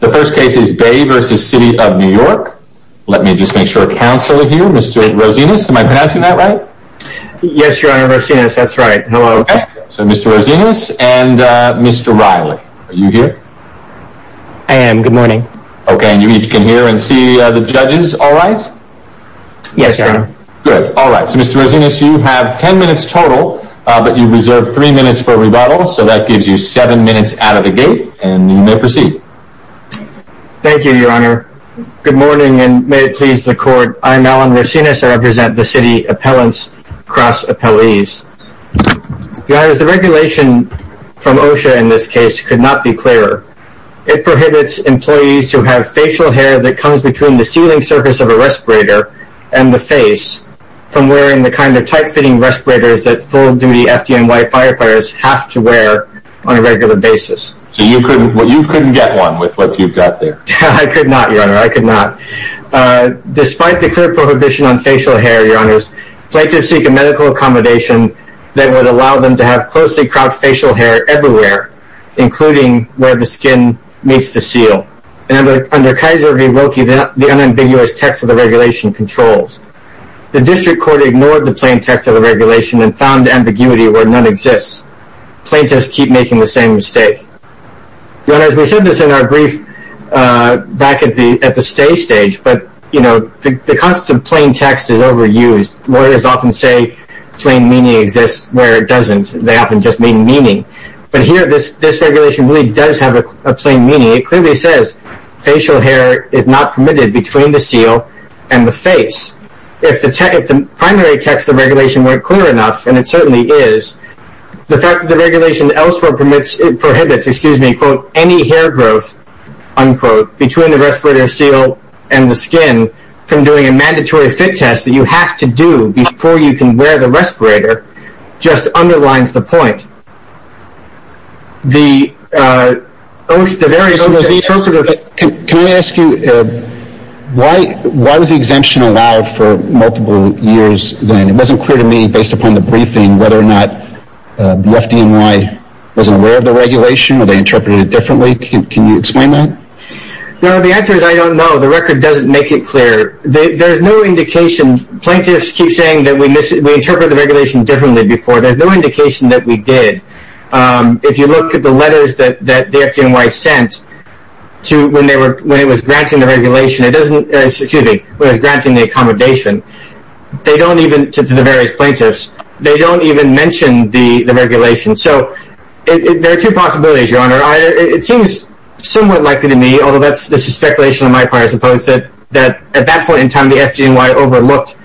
The first case is Bay v. City of New York. Let me just make sure counsel is here. Mr. Rosinas, am I pronouncing that right? Yes, Your Honor. Rosinas, that's right. Hello. Okay. So Mr. Rosinas and Mr. Riley, are you here? I am. Good morning. Okay. And you each can hear and see the judges all right? Yes, Your Honor. Good. All right. So Mr. Rosinas, you have ten minutes total, but you've reserved three minutes for rebuttal. So that gives you seven minutes out of the gate, and you may proceed. Thank you, Your Honor. Good morning, and may it please the Court. I'm Alan Rosinas. I represent the City Appellants Cross-Appellees. Your Honor, the regulation from OSHA in this case could not be clearer. It prohibits employees who have facial hair that comes between the sealing surface of a respirator and the face from wearing the kind of tight-fitting respirators that full-duty FDNY firefighters have to wear on a regular basis. So you couldn't get one with what you've got there? I could not, Your Honor. I could not. Despite the clear prohibition on facial hair, Your Honors, plaintiffs seek a medical accommodation that would allow them to have closely cropped facial hair everywhere, including where the skin meets the seal. Under Kaiser v. Wilkie, the unambiguous text of the regulation controls. The District Court ignored the plain text of the regulation and found ambiguity where none exists. Plaintiffs keep making the same mistake. Your Honors, we said this in our brief back at the stay stage, but the constant plain text is overused. Lawyers often say plain meaning exists where it doesn't. They often just mean meaning. But here, this regulation really does have a plain meaning. It clearly says facial hair is not permitted between the seal and the face. If the primary text of the regulation weren't clear enough, and it certainly is, the fact that the regulation elsewhere prohibits, excuse me, quote, any hair growth, unquote, between the respirator seal and the skin from doing a mandatory fit test that you have to do before you can wear the respirator just underlines the point. Can I ask you, why was the exemption allowed for multiple years then? It wasn't clear to me, based upon the briefing, whether or not the FDNY wasn't aware of the regulation, or they interpreted it differently. Can you explain that? No, the answer is I don't know. The record doesn't make it clear. There's no indication. Plaintiffs keep saying that we interpret the regulation differently before. There's no indication that we did. If you look at the letters that the FDNY sent when it was granting the accommodation to the various plaintiffs, they don't even mention the regulation. So there are two possibilities, Your Honor. It seems somewhat likely to me, although this is speculation on my part, I suppose, that at that point in time the FDNY overlooked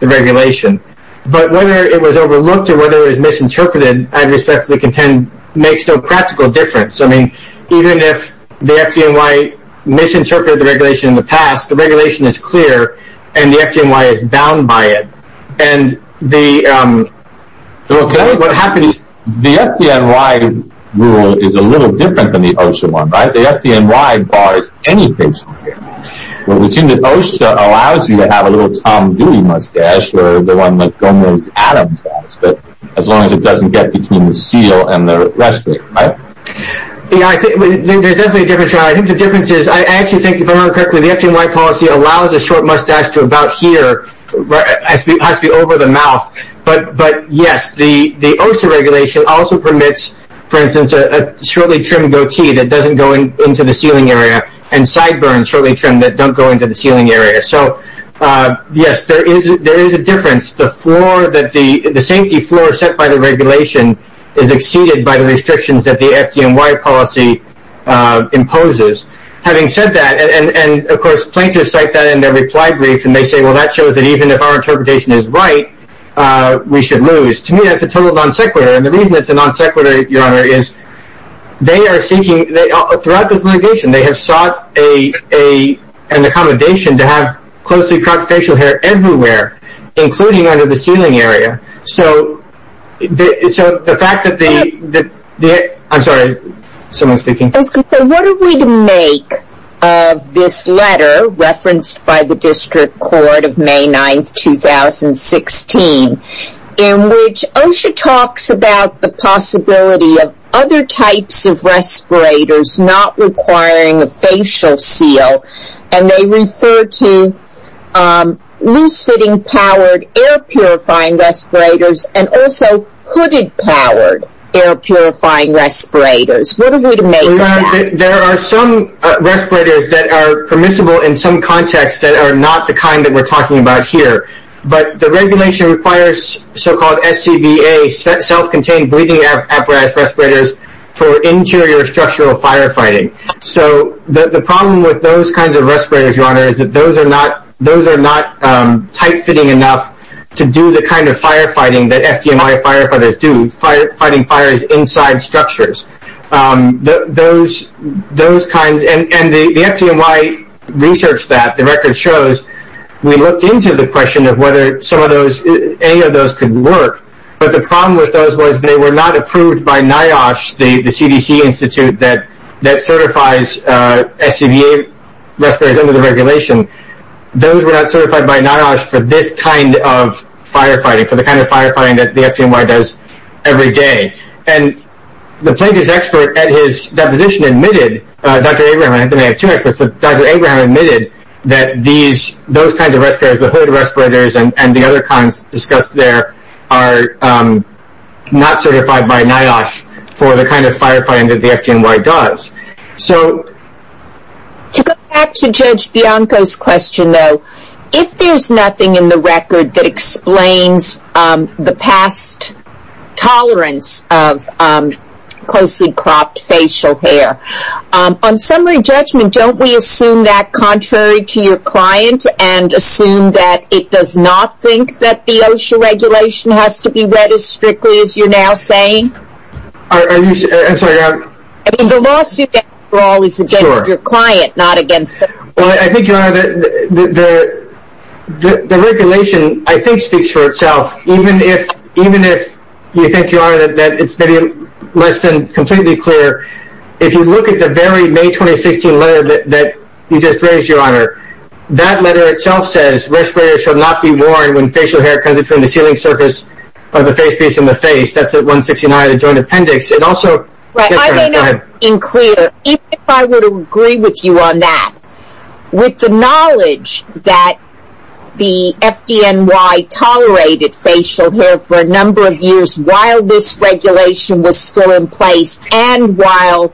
the regulation. But whether it was overlooked or whether it was misinterpreted, I respectfully contend, makes no practical difference. Even if the FDNY misinterpreted the regulation in the past, the regulation is clear and the FDNY is bound by it. The FDNY rule is a little different than the OSHA one, right? The FDNY bars any patient. Well, it would seem that OSHA allows you to have a little Tom Dooley mustache, or the one that Gomez Adams has, as long as it doesn't get between the seal and the respirator, right? There's definitely a difference, Your Honor. I think the difference is I actually think, if I remember correctly, the FDNY policy allows a short mustache to about here, has to be over the mouth. But, yes, the OSHA regulation also permits, for instance, a shortly trimmed goatee that doesn't go into the sealing area and sideburns, shortly trimmed, that don't go into the sealing area. So, yes, there is a difference. The safety floor set by the regulation is exceeded by the restrictions that the FDNY policy imposes. Having said that, and, of course, plaintiffs cite that in their reply brief, and they say, well, that shows that even if our interpretation is right, we should lose. To me, that's a total non sequitur, and the reason it's a non sequitur, Your Honor, is they are seeking, throughout this litigation, they have sought an accommodation to have closely cropped facial hair everywhere, including under the sealing area. So, the fact that the, I'm sorry, someone's speaking. I was going to say, what are we to make of this letter referenced by the District Court of May 9, 2016, in which OSHA talks about the possibility of other types of respirators not requiring a facial seal, and they refer to loose-fitting powered air purifying respirators, and also hooded powered air purifying respirators. What are we to make of that? There are some respirators that are permissible in some contexts that are not the kind that we're talking about here, but the regulation requires so-called SCBA, self-contained breathing apparatus respirators, for interior structural firefighting. So, the problem with those kinds of respirators, Your Honor, is that those are not tight-fitting enough to do the kind of firefighting that FDNY firefighters do, fighting fires inside structures. Those kinds, and the FDNY researched that. The record shows we looked into the question of whether any of those could work, but the problem with those was they were not approved by NIOSH, the CDC Institute that certifies SCBA respirators under the regulation. Those were not certified by NIOSH for this kind of firefighting, for the kind of firefighting that the FDNY does every day. And the plaintiff's expert at his deposition admitted, Dr. Abraham, and I have two experts, but Dr. Abraham admitted that those kinds of respirators, the hooded respirators and the other kinds discussed there, are not certified by NIOSH for the kind of firefighting that the FDNY does. So, to go back to Judge Bianco's question, though, if there's nothing in the record that explains the past tolerance of closely cropped facial hair, on summary judgment, don't we assume that contrary to your client and assume that it does not think that the OSHA regulation has to be read as strictly as you're now saying? I'm sorry. I mean, the lawsuit after all is against your client, not against FDNY. Well, I think, Your Honor, the regulation, I think, speaks for itself. Even if you think, Your Honor, that it's maybe less than completely clear, if you look at the very May 2016 letter that you just raised, Your Honor, that letter itself says, respirators shall not be worn when facial hair comes between the sealing surface of the face piece and the face. That's at 169, the joint appendix. I may not be clear. If I were to agree with you on that, with the knowledge that the FDNY tolerated facial hair for a number of years while this regulation was still in place and while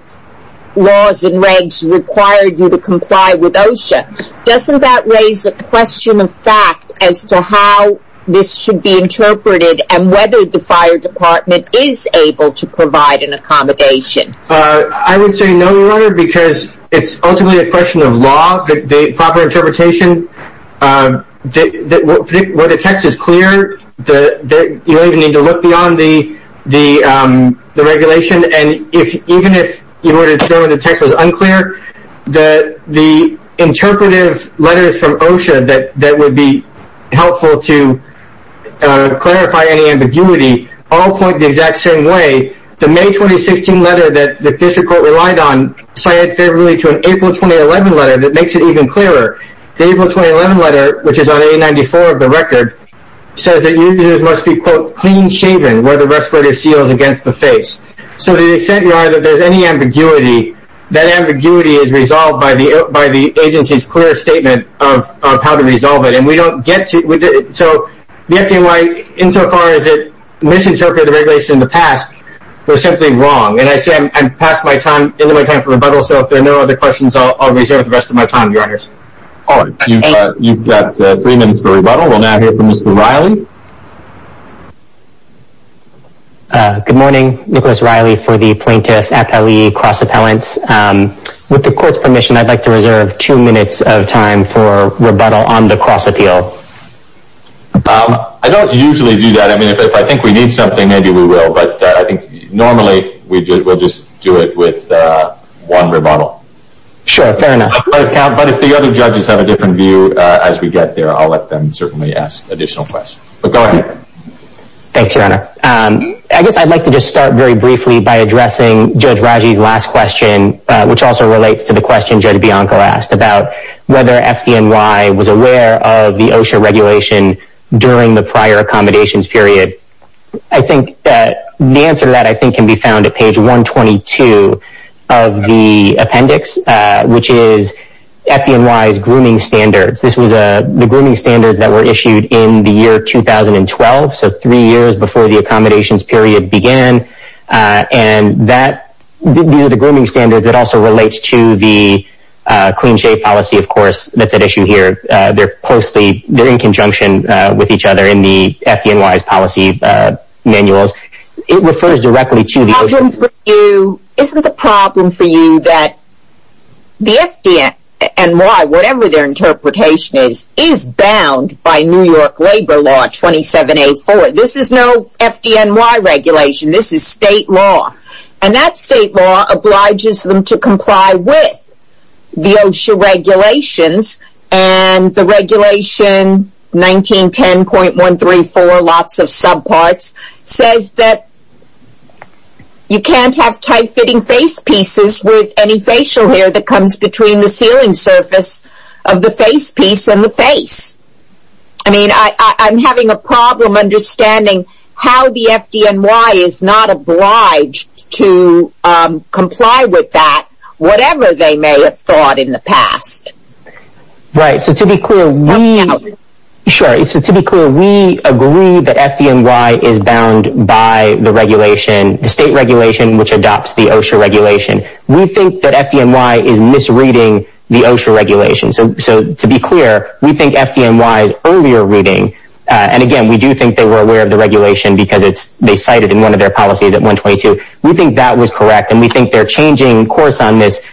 laws and regs required you to comply with OSHA, doesn't that raise a question of fact as to how this should be interpreted and whether the fire department is able to provide an accommodation? I would say no, Your Honor, because it's ultimately a question of law, the proper interpretation. Where the text is clear, you don't even need to look beyond the regulation. And even if you were to show the text was unclear, the interpretive letters from OSHA that would be helpful to clarify any ambiguity all point the exact same way. The May 2016 letter that the District Court relied on cited favorably to an April 2011 letter that makes it even clearer. The April 2011 letter, which is on A94 of the record, says that users must be, quote, clean shaven where the respirator seals against the face. So to the extent, Your Honor, that there's any ambiguity, that ambiguity is resolved by the agency's clear statement of how to resolve it. And we don't get to it. So the FDNY, insofar as it misinterpreted the regulation in the past, was simply wrong. And I say I'm past my time, into my time for rebuttal, so if there are no other questions, I'll reserve the rest of my time, Your Honors. All right. You've got three minutes for rebuttal. We'll now hear from Mr. Riley. Mr. Riley? Good morning. Nicholas Riley for the Plaintiff-Appellee Cross-Appellants. With the Court's permission, I'd like to reserve two minutes of time for rebuttal on the cross-appeal. I don't usually do that. I mean, if I think we need something, maybe we will, but I think normally we'll just do it with one rebuttal. Sure, fair enough. But if the other judges have a different view as we get there, I'll let them certainly ask additional questions. But go ahead. Thanks, Your Honor. I guess I'd like to just start very briefly by addressing Judge Raji's last question, which also relates to the question Judge Bianco asked about whether FDNY was aware of the OSHA regulation during the prior accommodations period. I think the answer to that, I think, can be found at page 122 of the appendix, which is FDNY's grooming standards. This was the grooming standards that were issued in the year 2012, so three years before the accommodations period began. And these are the grooming standards that also relate to the clean shave policy, of course, that's at issue here. They're in conjunction with each other in the FDNY's policy manuals. It refers directly to the OSHA. Isn't the problem for you that the FDNY, whatever their interpretation is, is bound by New York labor law 27A4. This is no FDNY regulation. This is state law. And that state law obliges them to comply with the OSHA regulations, and the regulation 1910.134, lots of subparts, says that you can't have tight-fitting face pieces with any facial hair that comes between the sealing surface of the face piece and the face. I mean, I'm having a problem understanding how the FDNY is not obliged to comply with that, whatever they may have thought in the past. Right. So to be clear, we agree that FDNY is bound by the regulation, the state regulation which adopts the OSHA regulation. We think that FDNY is misreading the OSHA regulation. So to be clear, we think FDNY is earlier reading. And again, we do think they were aware of the regulation because they cite it in one of their policies at 122. We think that was correct, and we think their changing course on this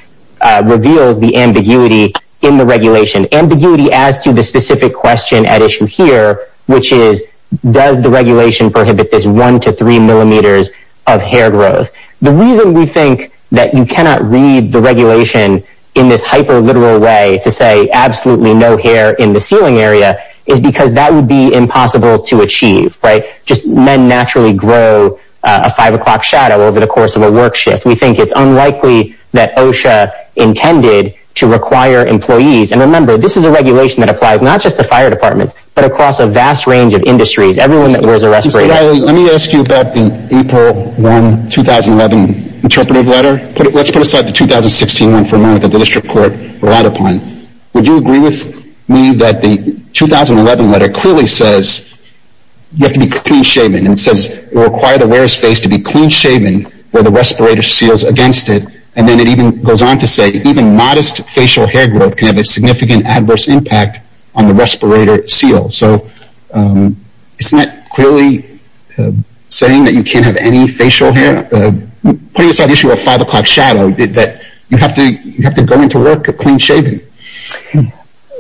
reveals the ambiguity in the regulation, ambiguity as to the specific question at issue here, which is does the regulation prohibit this 1 to 3 millimeters of hair growth. The reason we think that you cannot read the regulation in this hyperliteral way to say absolutely no hair in the sealing area is because that would be impossible to achieve. Right. Just men naturally grow a 5 o'clock shadow over the course of a work shift. We think it's unlikely that OSHA intended to require employees. And remember, this is a regulation that applies not just to fire departments, but across a vast range of industries, everyone that wears a respirator. Mr. Riley, let me ask you about the April 1, 2011 interpretive letter. Let's put aside the 2016 one for a moment that the district court relied upon. Would you agree with me that the 2011 letter clearly says you have to be clean shaven and says it will require the wearer's face to be clean shaven where the respirator seals against it, and then it even goes on to say even modest facial hair growth can have a significant adverse impact on the respirator seal. So isn't that clearly saying that you can't have any facial hair? Putting aside the issue of 5 o'clock shadow, you have to go into work clean shaven.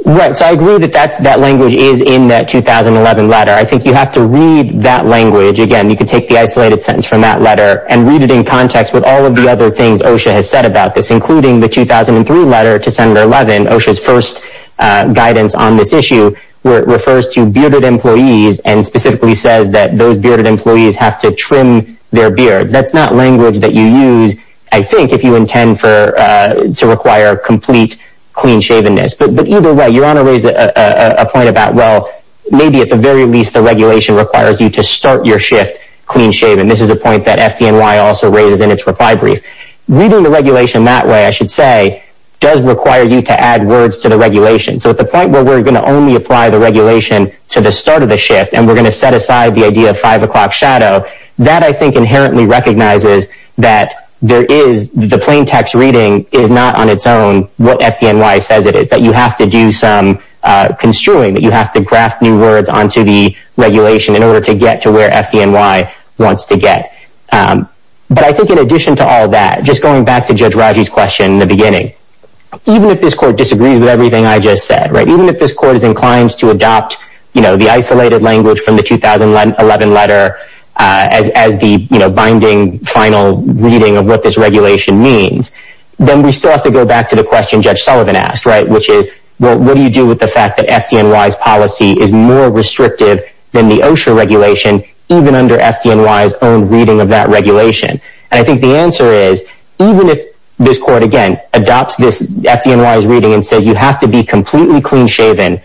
Right. So I agree that that language is in that 2011 letter. I think you have to read that language. Again, you can take the isolated sentence from that letter and read it in context with all of the other things OSHA has said about this, including the 2003 letter to Senator Levin, OSHA's first guidance on this issue, where it refers to bearded employees and specifically says that those bearded employees have to trim their beards. That's not language that you use, I think, if you intend to require complete clean shavenness. But either way, you want to raise a point about, well, maybe at the very least the regulation requires you to start your shift clean shaven. This is a point that FDNY also raises in its reply brief. Reading the regulation that way, I should say, does require you to add words to the regulation. So at the point where we're going to only apply the regulation to the start of the shift and we're going to set aside the idea of 5 o'clock shadow, that I think inherently recognizes that the plain text reading is not on its own what FDNY says it is, that you have to do some construing, that you have to graft new words onto the regulation in order to get to where FDNY wants to get. But I think in addition to all that, just going back to Judge Raji's question in the beginning, even if this court disagrees with everything I just said, even if this court is inclined to adopt the isolated language from the 2011 letter as the binding final reading of what this regulation means, then we still have to go back to the question Judge Sullivan asked, which is, well, what do you do with the fact that FDNY's policy is more restrictive than the OSHA regulation, even under FDNY's own reading of that regulation? And I think the answer is, even if this court, again, adopts this FDNY's reading and says you have to be completely clean-shaven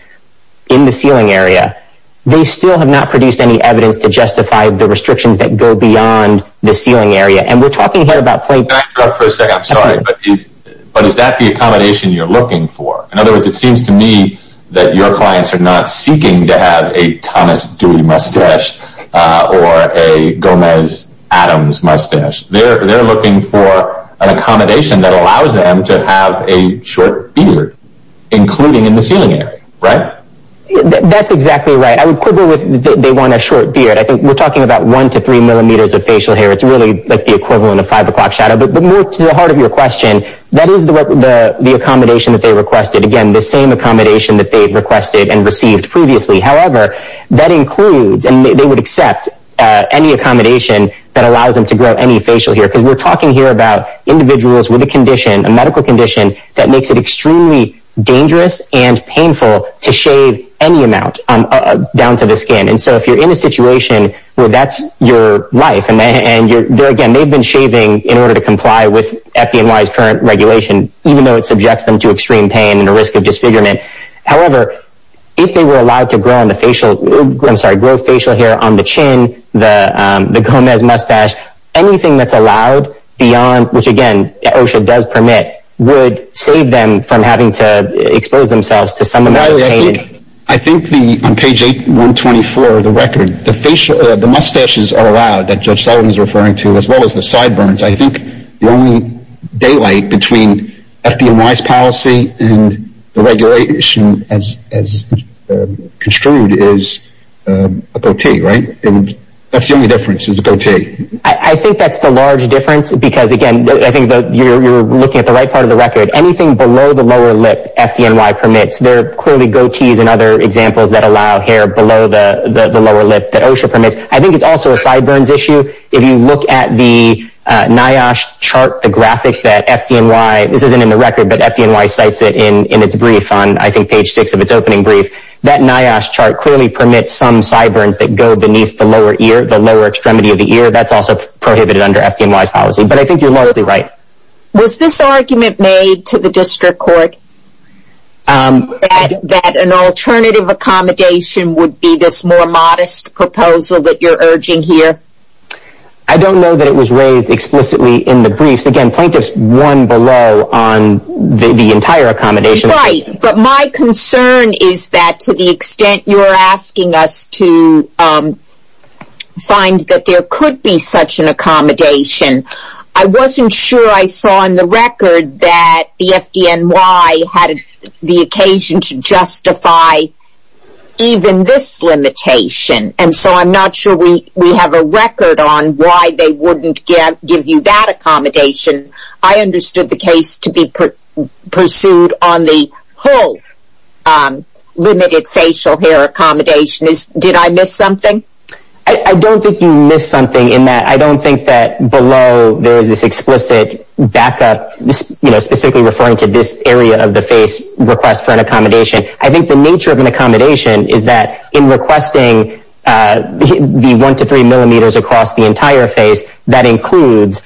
in the ceiling area, they still have not produced any evidence to justify the restrictions that go beyond the ceiling area. And we're talking here about plain text. Can I interrupt for a second? I'm sorry. But is that the accommodation you're looking for? In other words, it seems to me that your clients are not seeking to have a Thomas Dewey mustache or a Gomez Adams mustache. They're looking for an accommodation that allows them to have a short beard, including in the ceiling area, right? That's exactly right. I would quibble with they want a short beard. I think we're talking about one to three millimeters of facial hair. It's really like the equivalent of five o'clock shadow. But more to the heart of your question, that is the accommodation that they requested. Again, the same accommodation that they requested and received previously. However, that includes, and they would accept, any accommodation that allows them to grow any facial hair. Because we're talking here about individuals with a condition, a medical condition, that makes it extremely dangerous and painful to shave any amount down to the skin. And so if you're in a situation where that's your life and, again, they've been shaving in order to comply with FDNY's current regulation, even though it subjects them to extreme pain and the risk of disfigurement. However, if they were allowed to grow facial hair on the chin, the Gomez mustache, anything that's allowed beyond, which again, OSHA does permit, would save them from having to expose themselves to some amount of pain. I think on page 8124 of the record, the mustaches are allowed, that Judge Sullivan is referring to, as well as the sideburns. I think the only daylight between FDNY's policy and the regulation as construed is a goatee, right? That's the only difference, is a goatee. I think that's the large difference because, again, I think you're looking at the right part of the record. Anything below the lower lip, FDNY permits. There are clearly goatees and other examples that allow hair below the lower lip that OSHA permits. I think it's also a sideburns issue. If you look at the NIOSH chart, the graphics that FDNY, this isn't in the record, but FDNY cites it in its brief on, I think, page 6 of its opening brief. That NIOSH chart clearly permits some sideburns that go beneath the lower ear, the lower extremity of the ear. That's also prohibited under FDNY's policy, but I think you're largely right. Was this argument made to the district court, that an alternative accommodation would be this more modest proposal that you're urging here? I don't know that it was raised explicitly in the briefs. Again, plaintiffs won below on the entire accommodation. Right, but my concern is that to the extent you're asking us to find that there could be such an accommodation, I wasn't sure I saw in the record that the FDNY had the occasion to justify even this limitation, and so I'm not sure we have a record on why they wouldn't give you that accommodation. I understood the case to be pursued on the full limited facial hair accommodation. Did I miss something? I don't think you missed something in that I don't think that below there is this explicit backup, specifically referring to this area of the face request for an accommodation. I think the nature of an accommodation is that in requesting the 1 to 3 millimeters across the entire face, that includes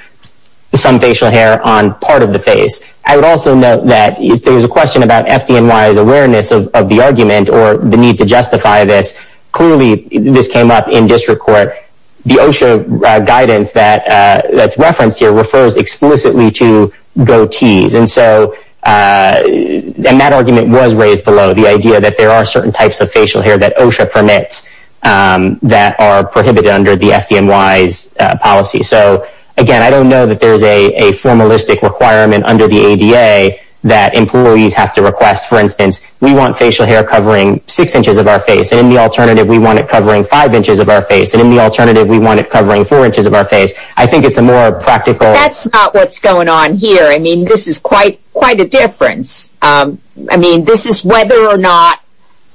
some facial hair on part of the face. I would also note that if there's a question about FDNY's awareness of the argument or the need to justify this, clearly this came up in district court. The OSHA guidance that's referenced here refers explicitly to goatees, and that argument was raised below the idea that there are certain types of facial hair that OSHA permits that are prohibited under the FDNY's policy. Again, I don't know that there's a formalistic requirement under the ADA that employees have to request. For instance, we want facial hair covering 6 inches of our face, and in the alternative we want it covering 5 inches of our face, and in the alternative we want it covering 4 inches of our face. I think it's a more practical... That's not what's going on here. I mean, this is quite a difference. I mean, this is whether or not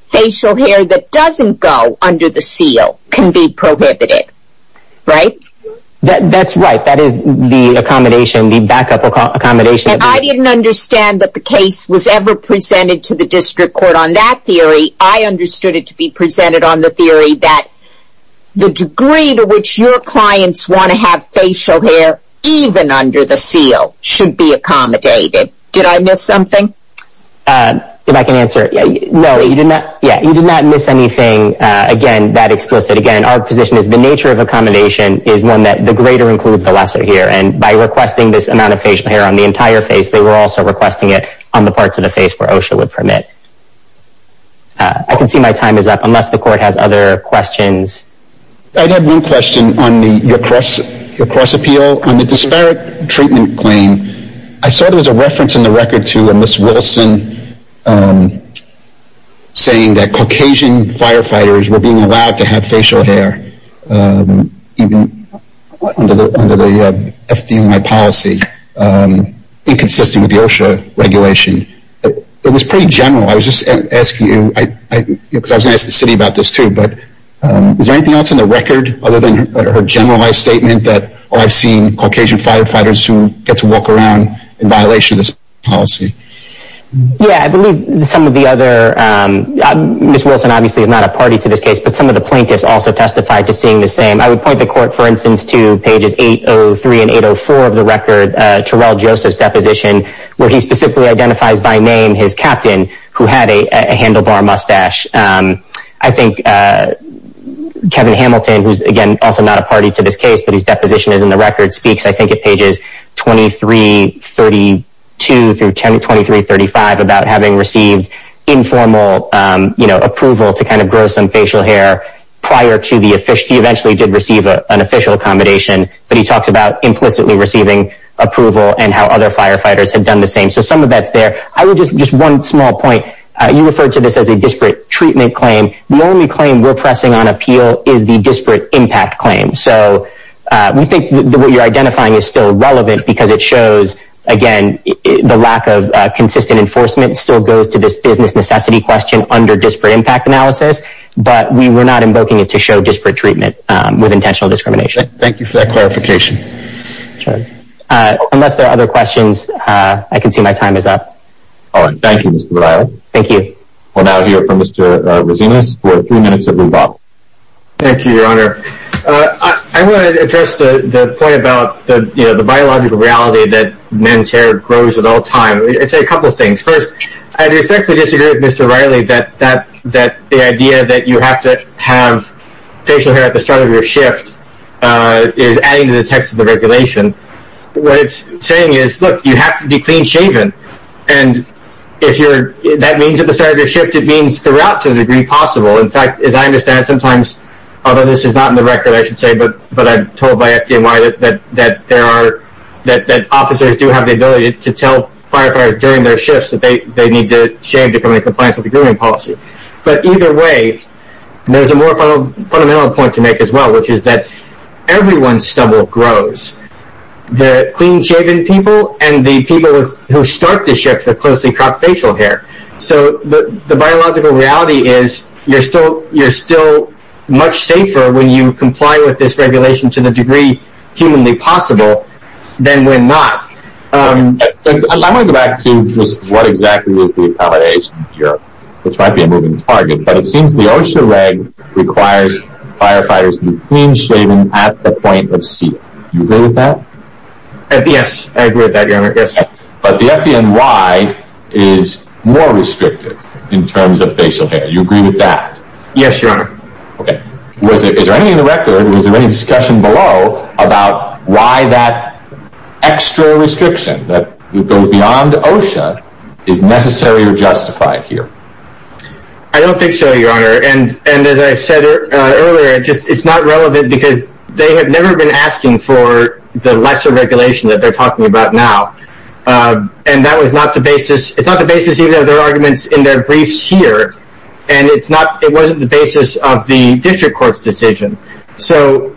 facial hair that doesn't go under the seal can be prohibited, right? That's right. That is the accommodation, the backup accommodation. And I didn't understand that the case was ever presented to the district court on that theory. I understood it to be presented on the theory that the degree to which your clients want to have facial hair, even under the seal, should be accommodated. Did I miss something? If I can answer... Please. No, you did not miss anything, again, that explicit. Again, our position is the nature of accommodation is one that the greater includes the lesser here, and by requesting this amount of facial hair on the entire face, they were also requesting it on the parts of the face where OSHA would permit. I can see my time is up, unless the court has other questions. I had one question on your cross-appeal. On the disparate treatment claim, I saw there was a reference in the record to a Miss Wilson saying that Caucasian firefighters were being allowed to have facial hair, even under the FD&I policy, inconsistent with the OSHA regulation. It was pretty general. I was just asking you, because I was going to ask the city about this too, but is there anything else in the record other than her generalized statement that I've seen Caucasian firefighters who get to walk around in violation of this policy? Yeah, I believe some of the other... Miss Wilson, obviously, is not a party to this case, but some of the plaintiffs also testified to seeing the same. I would point the court, for instance, to pages 803 and 804 of the record, Terrell Joseph's deposition, where he specifically identifies by name his captain, who had a handlebar mustache. I think Kevin Hamilton, who's, again, also not a party to this case, but his deposition is in the record, speaks, I think, at pages 2332 through 2335 about having received informal approval to grow some facial hair prior to the official... He eventually did receive an official accommodation, but he talks about implicitly receiving approval and how other firefighters had done the same. So some of that's there. Just one small point. You referred to this as a disparate treatment claim. The only claim we're pressing on appeal is the disparate impact claim. So we think what you're identifying is still relevant because it shows, again, the lack of consistent enforcement still goes to this business necessity question under disparate impact analysis, but we were not invoking it to show disparate treatment with intentional discrimination. Thank you for that clarification. Unless there are other questions, I can see my time is up. All right. Thank you, Mr. Vidal. Thank you. We'll now hear from Mr. Rosinas for three minutes and move on. Thank you, Your Honor. I want to address the point about the biological reality that men's hair grows at all times. I'd say a couple of things. First, I respectfully disagree with Mr. Riley that the idea that you have to have facial hair at the start of your shift is adding to the text of the regulation. What it's saying is, look, you have to be clean-shaven, and if that means at the start of your shift, it means throughout to the degree possible. In fact, as I understand, sometimes, although this is not in the record, I should say, but I'm told by FDNY that officers do have the ability to tell firefighters during their shifts that they need to shave to come into compliance with the grooming policy. But either way, there's a more fundamental point to make as well, which is that everyone's stubble grows, the clean-shaven people and the people who start the shifts that closely crop facial hair. So the biological reality is you're still much safer when you comply with this regulation to the degree humanly possible than when not. I want to go back to just what exactly is the accommodation here, which might be a moving target, but it seems the OSHA reg requires firefighters to be clean-shaven at the point of seal. Do you agree with that? Yes, I agree with that, Your Honor, yes. But the FDNY is more restrictive in terms of facial hair. Do you agree with that? Yes, Your Honor. Okay. Is there anything in the record, was there any discussion below about why that extra restriction that goes beyond OSHA is necessary or justified here? I don't think so, Your Honor, and as I said earlier, it's not relevant because they have never been asking for the lesser regulation that they're talking about now. And that was not the basis, it's not the basis either of their arguments in their briefs here, and it's not, it wasn't the basis of the district court's decision. So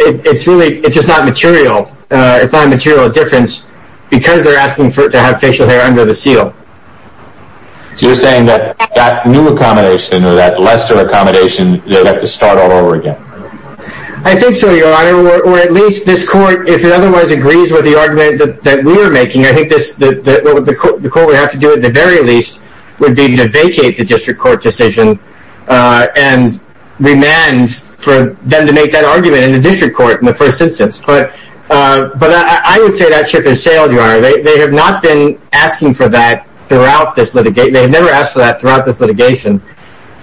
it's really, it's just not material, it's not a material difference because they're asking for it to have facial hair under the seal. So you're saying that that new accommodation or that lesser accommodation, they'll have to start all over again? I think so, Your Honor, or at least this court, if it otherwise agrees with the argument, that we're making, I think the court would have to do at the very least would be to vacate the district court decision and remand for them to make that argument in the district court in the first instance. But I would say that ship has sailed, Your Honor. They have not been asking for that throughout this litigation. They have never asked for that throughout this litigation,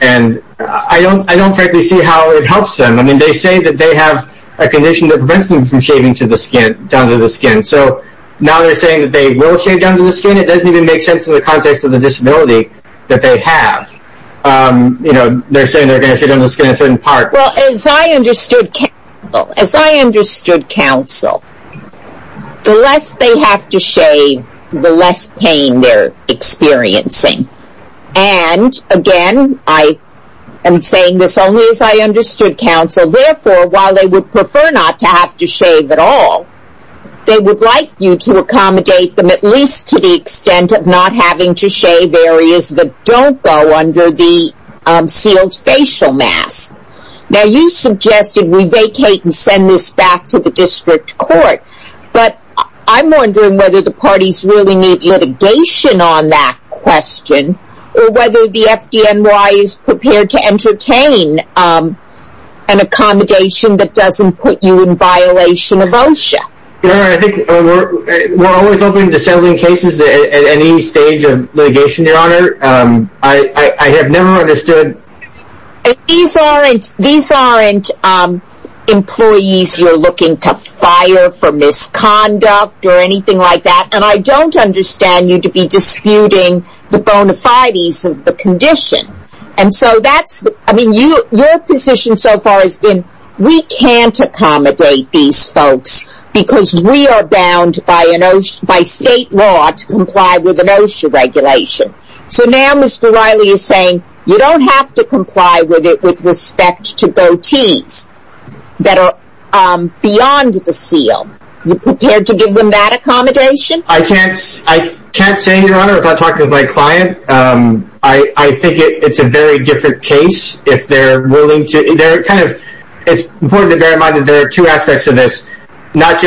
and I don't frankly see how it helps them. I mean, they say that they have a condition that prevents them from shaving down to the skin. So now they're saying that they will shave down to the skin. It doesn't even make sense in the context of the disability that they have. You know, they're saying they're going to shave down to the skin in a certain part. Well, as I understood counsel, the less they have to shave, the less pain they're experiencing. And again, I am saying this only as I understood counsel. Therefore, while they would prefer not to have to shave at all, they would like you to accommodate them at least to the extent of not having to shave areas that don't go under the sealed facial mask. Now, you suggested we vacate and send this back to the district court. But I'm wondering whether the parties really need litigation on that question or whether the FDNY is prepared to entertain an accommodation that doesn't put you in violation of OSHA. I think we're always open to settling cases at any stage of litigation, Your Honor. I have never understood. These aren't employees you're looking to fire for misconduct or anything like that. And I don't understand you to be disputing the bona fides of the condition. Your position so far has been we can't accommodate these folks because we are bound by state law to comply with an OSHA regulation. So now Mr. Riley is saying you don't have to comply with it with respect to goatees that are beyond the seal. Are you prepared to give them that accommodation? I can't say, Your Honor, without talking to my client. I think it's a very different case if they're willing to. It's important to bear in mind that there are two aspects to this. You can't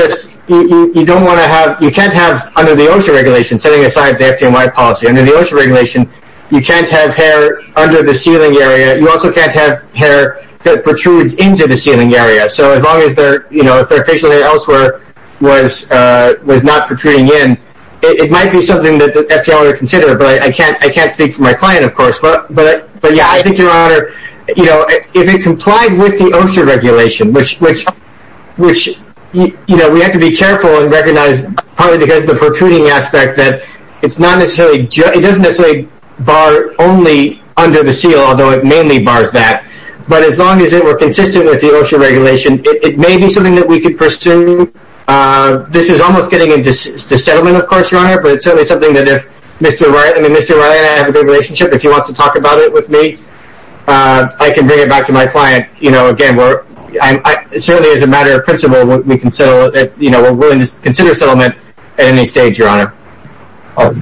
have under the OSHA regulation, setting aside the FDNY policy, under the OSHA regulation, you can't have hair under the sealing area. You also can't have hair that protrudes into the sealing area. So as long as their facial hair elsewhere was not protruding in, it might be something that the FDNY would consider. But I can't speak for my client, of course. But, yeah, I think, Your Honor, if it complied with the OSHA regulation, which we have to be careful and recognize, probably because of the protruding aspect that it doesn't necessarily bar only under the seal, although it mainly bars that. But as long as it were consistent with the OSHA regulation, it may be something that we could pursue. This is almost getting into settlement, of course, Your Honor, but it's certainly something that if Mr. O'Reilly and I have a good relationship, if he wants to talk about it with me, I can bring it back to my client. You know, again, certainly as a matter of principle, we're willing to consider settlement at any stage, Your Honor. I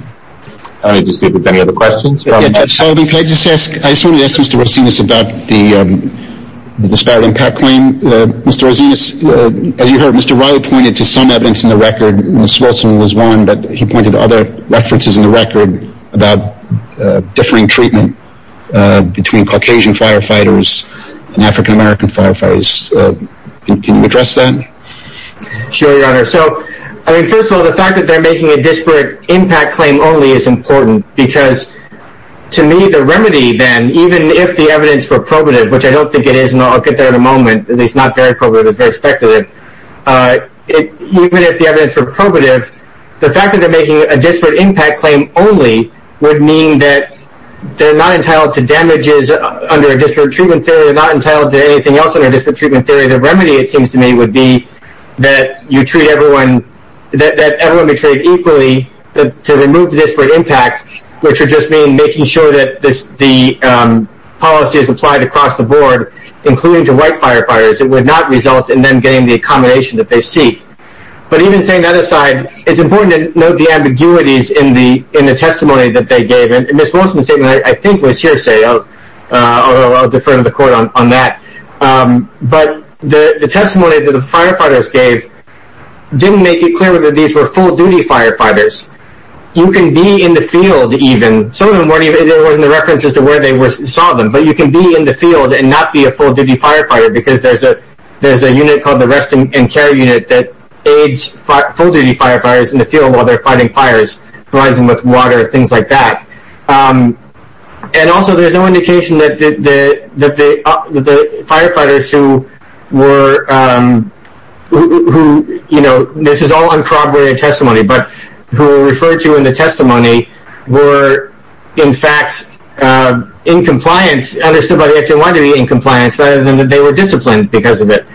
don't need to sleep with any other questions. I just wanted to ask Mr. Rosinas about the disparate impact claim. Mr. Rosinas, as you heard, Mr. O'Reilly pointed to some evidence in the record. Ms. Wilson was one, but he pointed to other references in the record about differing treatment between Caucasian firefighters and African-American firefighters. Can you address that? Sure, Your Honor. So, I mean, first of all, the fact that they're making a disparate impact claim only is important, because to me, the remedy then, even if the evidence were probative, which I don't think it is, and I'll get there in a moment, at least not very probative, very speculative. Even if the evidence were probative, the fact that they're making a disparate impact claim only would mean that they're not entitled to damages under a disparate treatment theory, they're not entitled to anything else under a disparate treatment theory. The remedy, it seems to me, would be that everyone be treated equally to remove the disparate impact, which would just mean making sure that the policy is applied across the board, including to white firefighters. It would not result in them getting the accommodation that they seek. But even saying that aside, it's important to note the ambiguities in the testimony that they gave. Ms. Wilson's statement, I think, was hearsay. I'll defer to the Court on that. But the testimony that the firefighters gave didn't make it clear that these were full-duty firefighters. You can be in the field, even. Some of them, there wasn't a reference as to where they saw them. But you can be in the field and not be a full-duty firefighter, because there's a unit called the Rest and Care Unit that aids full-duty firefighters in the field while they're fighting fires, rising with water, things like that. And also, there's no indication that the firefighters who were, you know, this is all uncorroborated testimony, but who were referred to in the testimony were, in fact, in compliance, understood by the FDNY to be in compliance, rather than that they were disciplined because of it.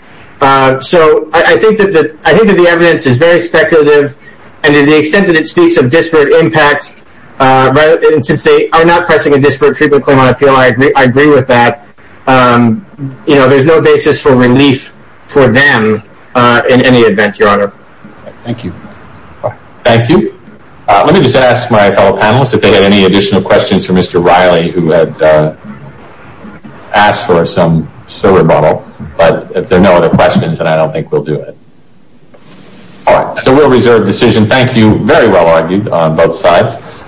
So I think that the evidence is very speculative. And to the extent that it speaks of disparate impact, since they are not pressing a disparate treatment claim on appeal, I agree with that. You know, there's no basis for relief for them in any event, Your Honor. Thank you. Thank you. Let me just ask my fellow panelists if they have any additional questions for Mr. Riley, who had asked for some silver bottle. But if there are no other questions, then I don't think we'll do it. All right. So we'll reserve the decision. Thank you. Very well argued on both sides.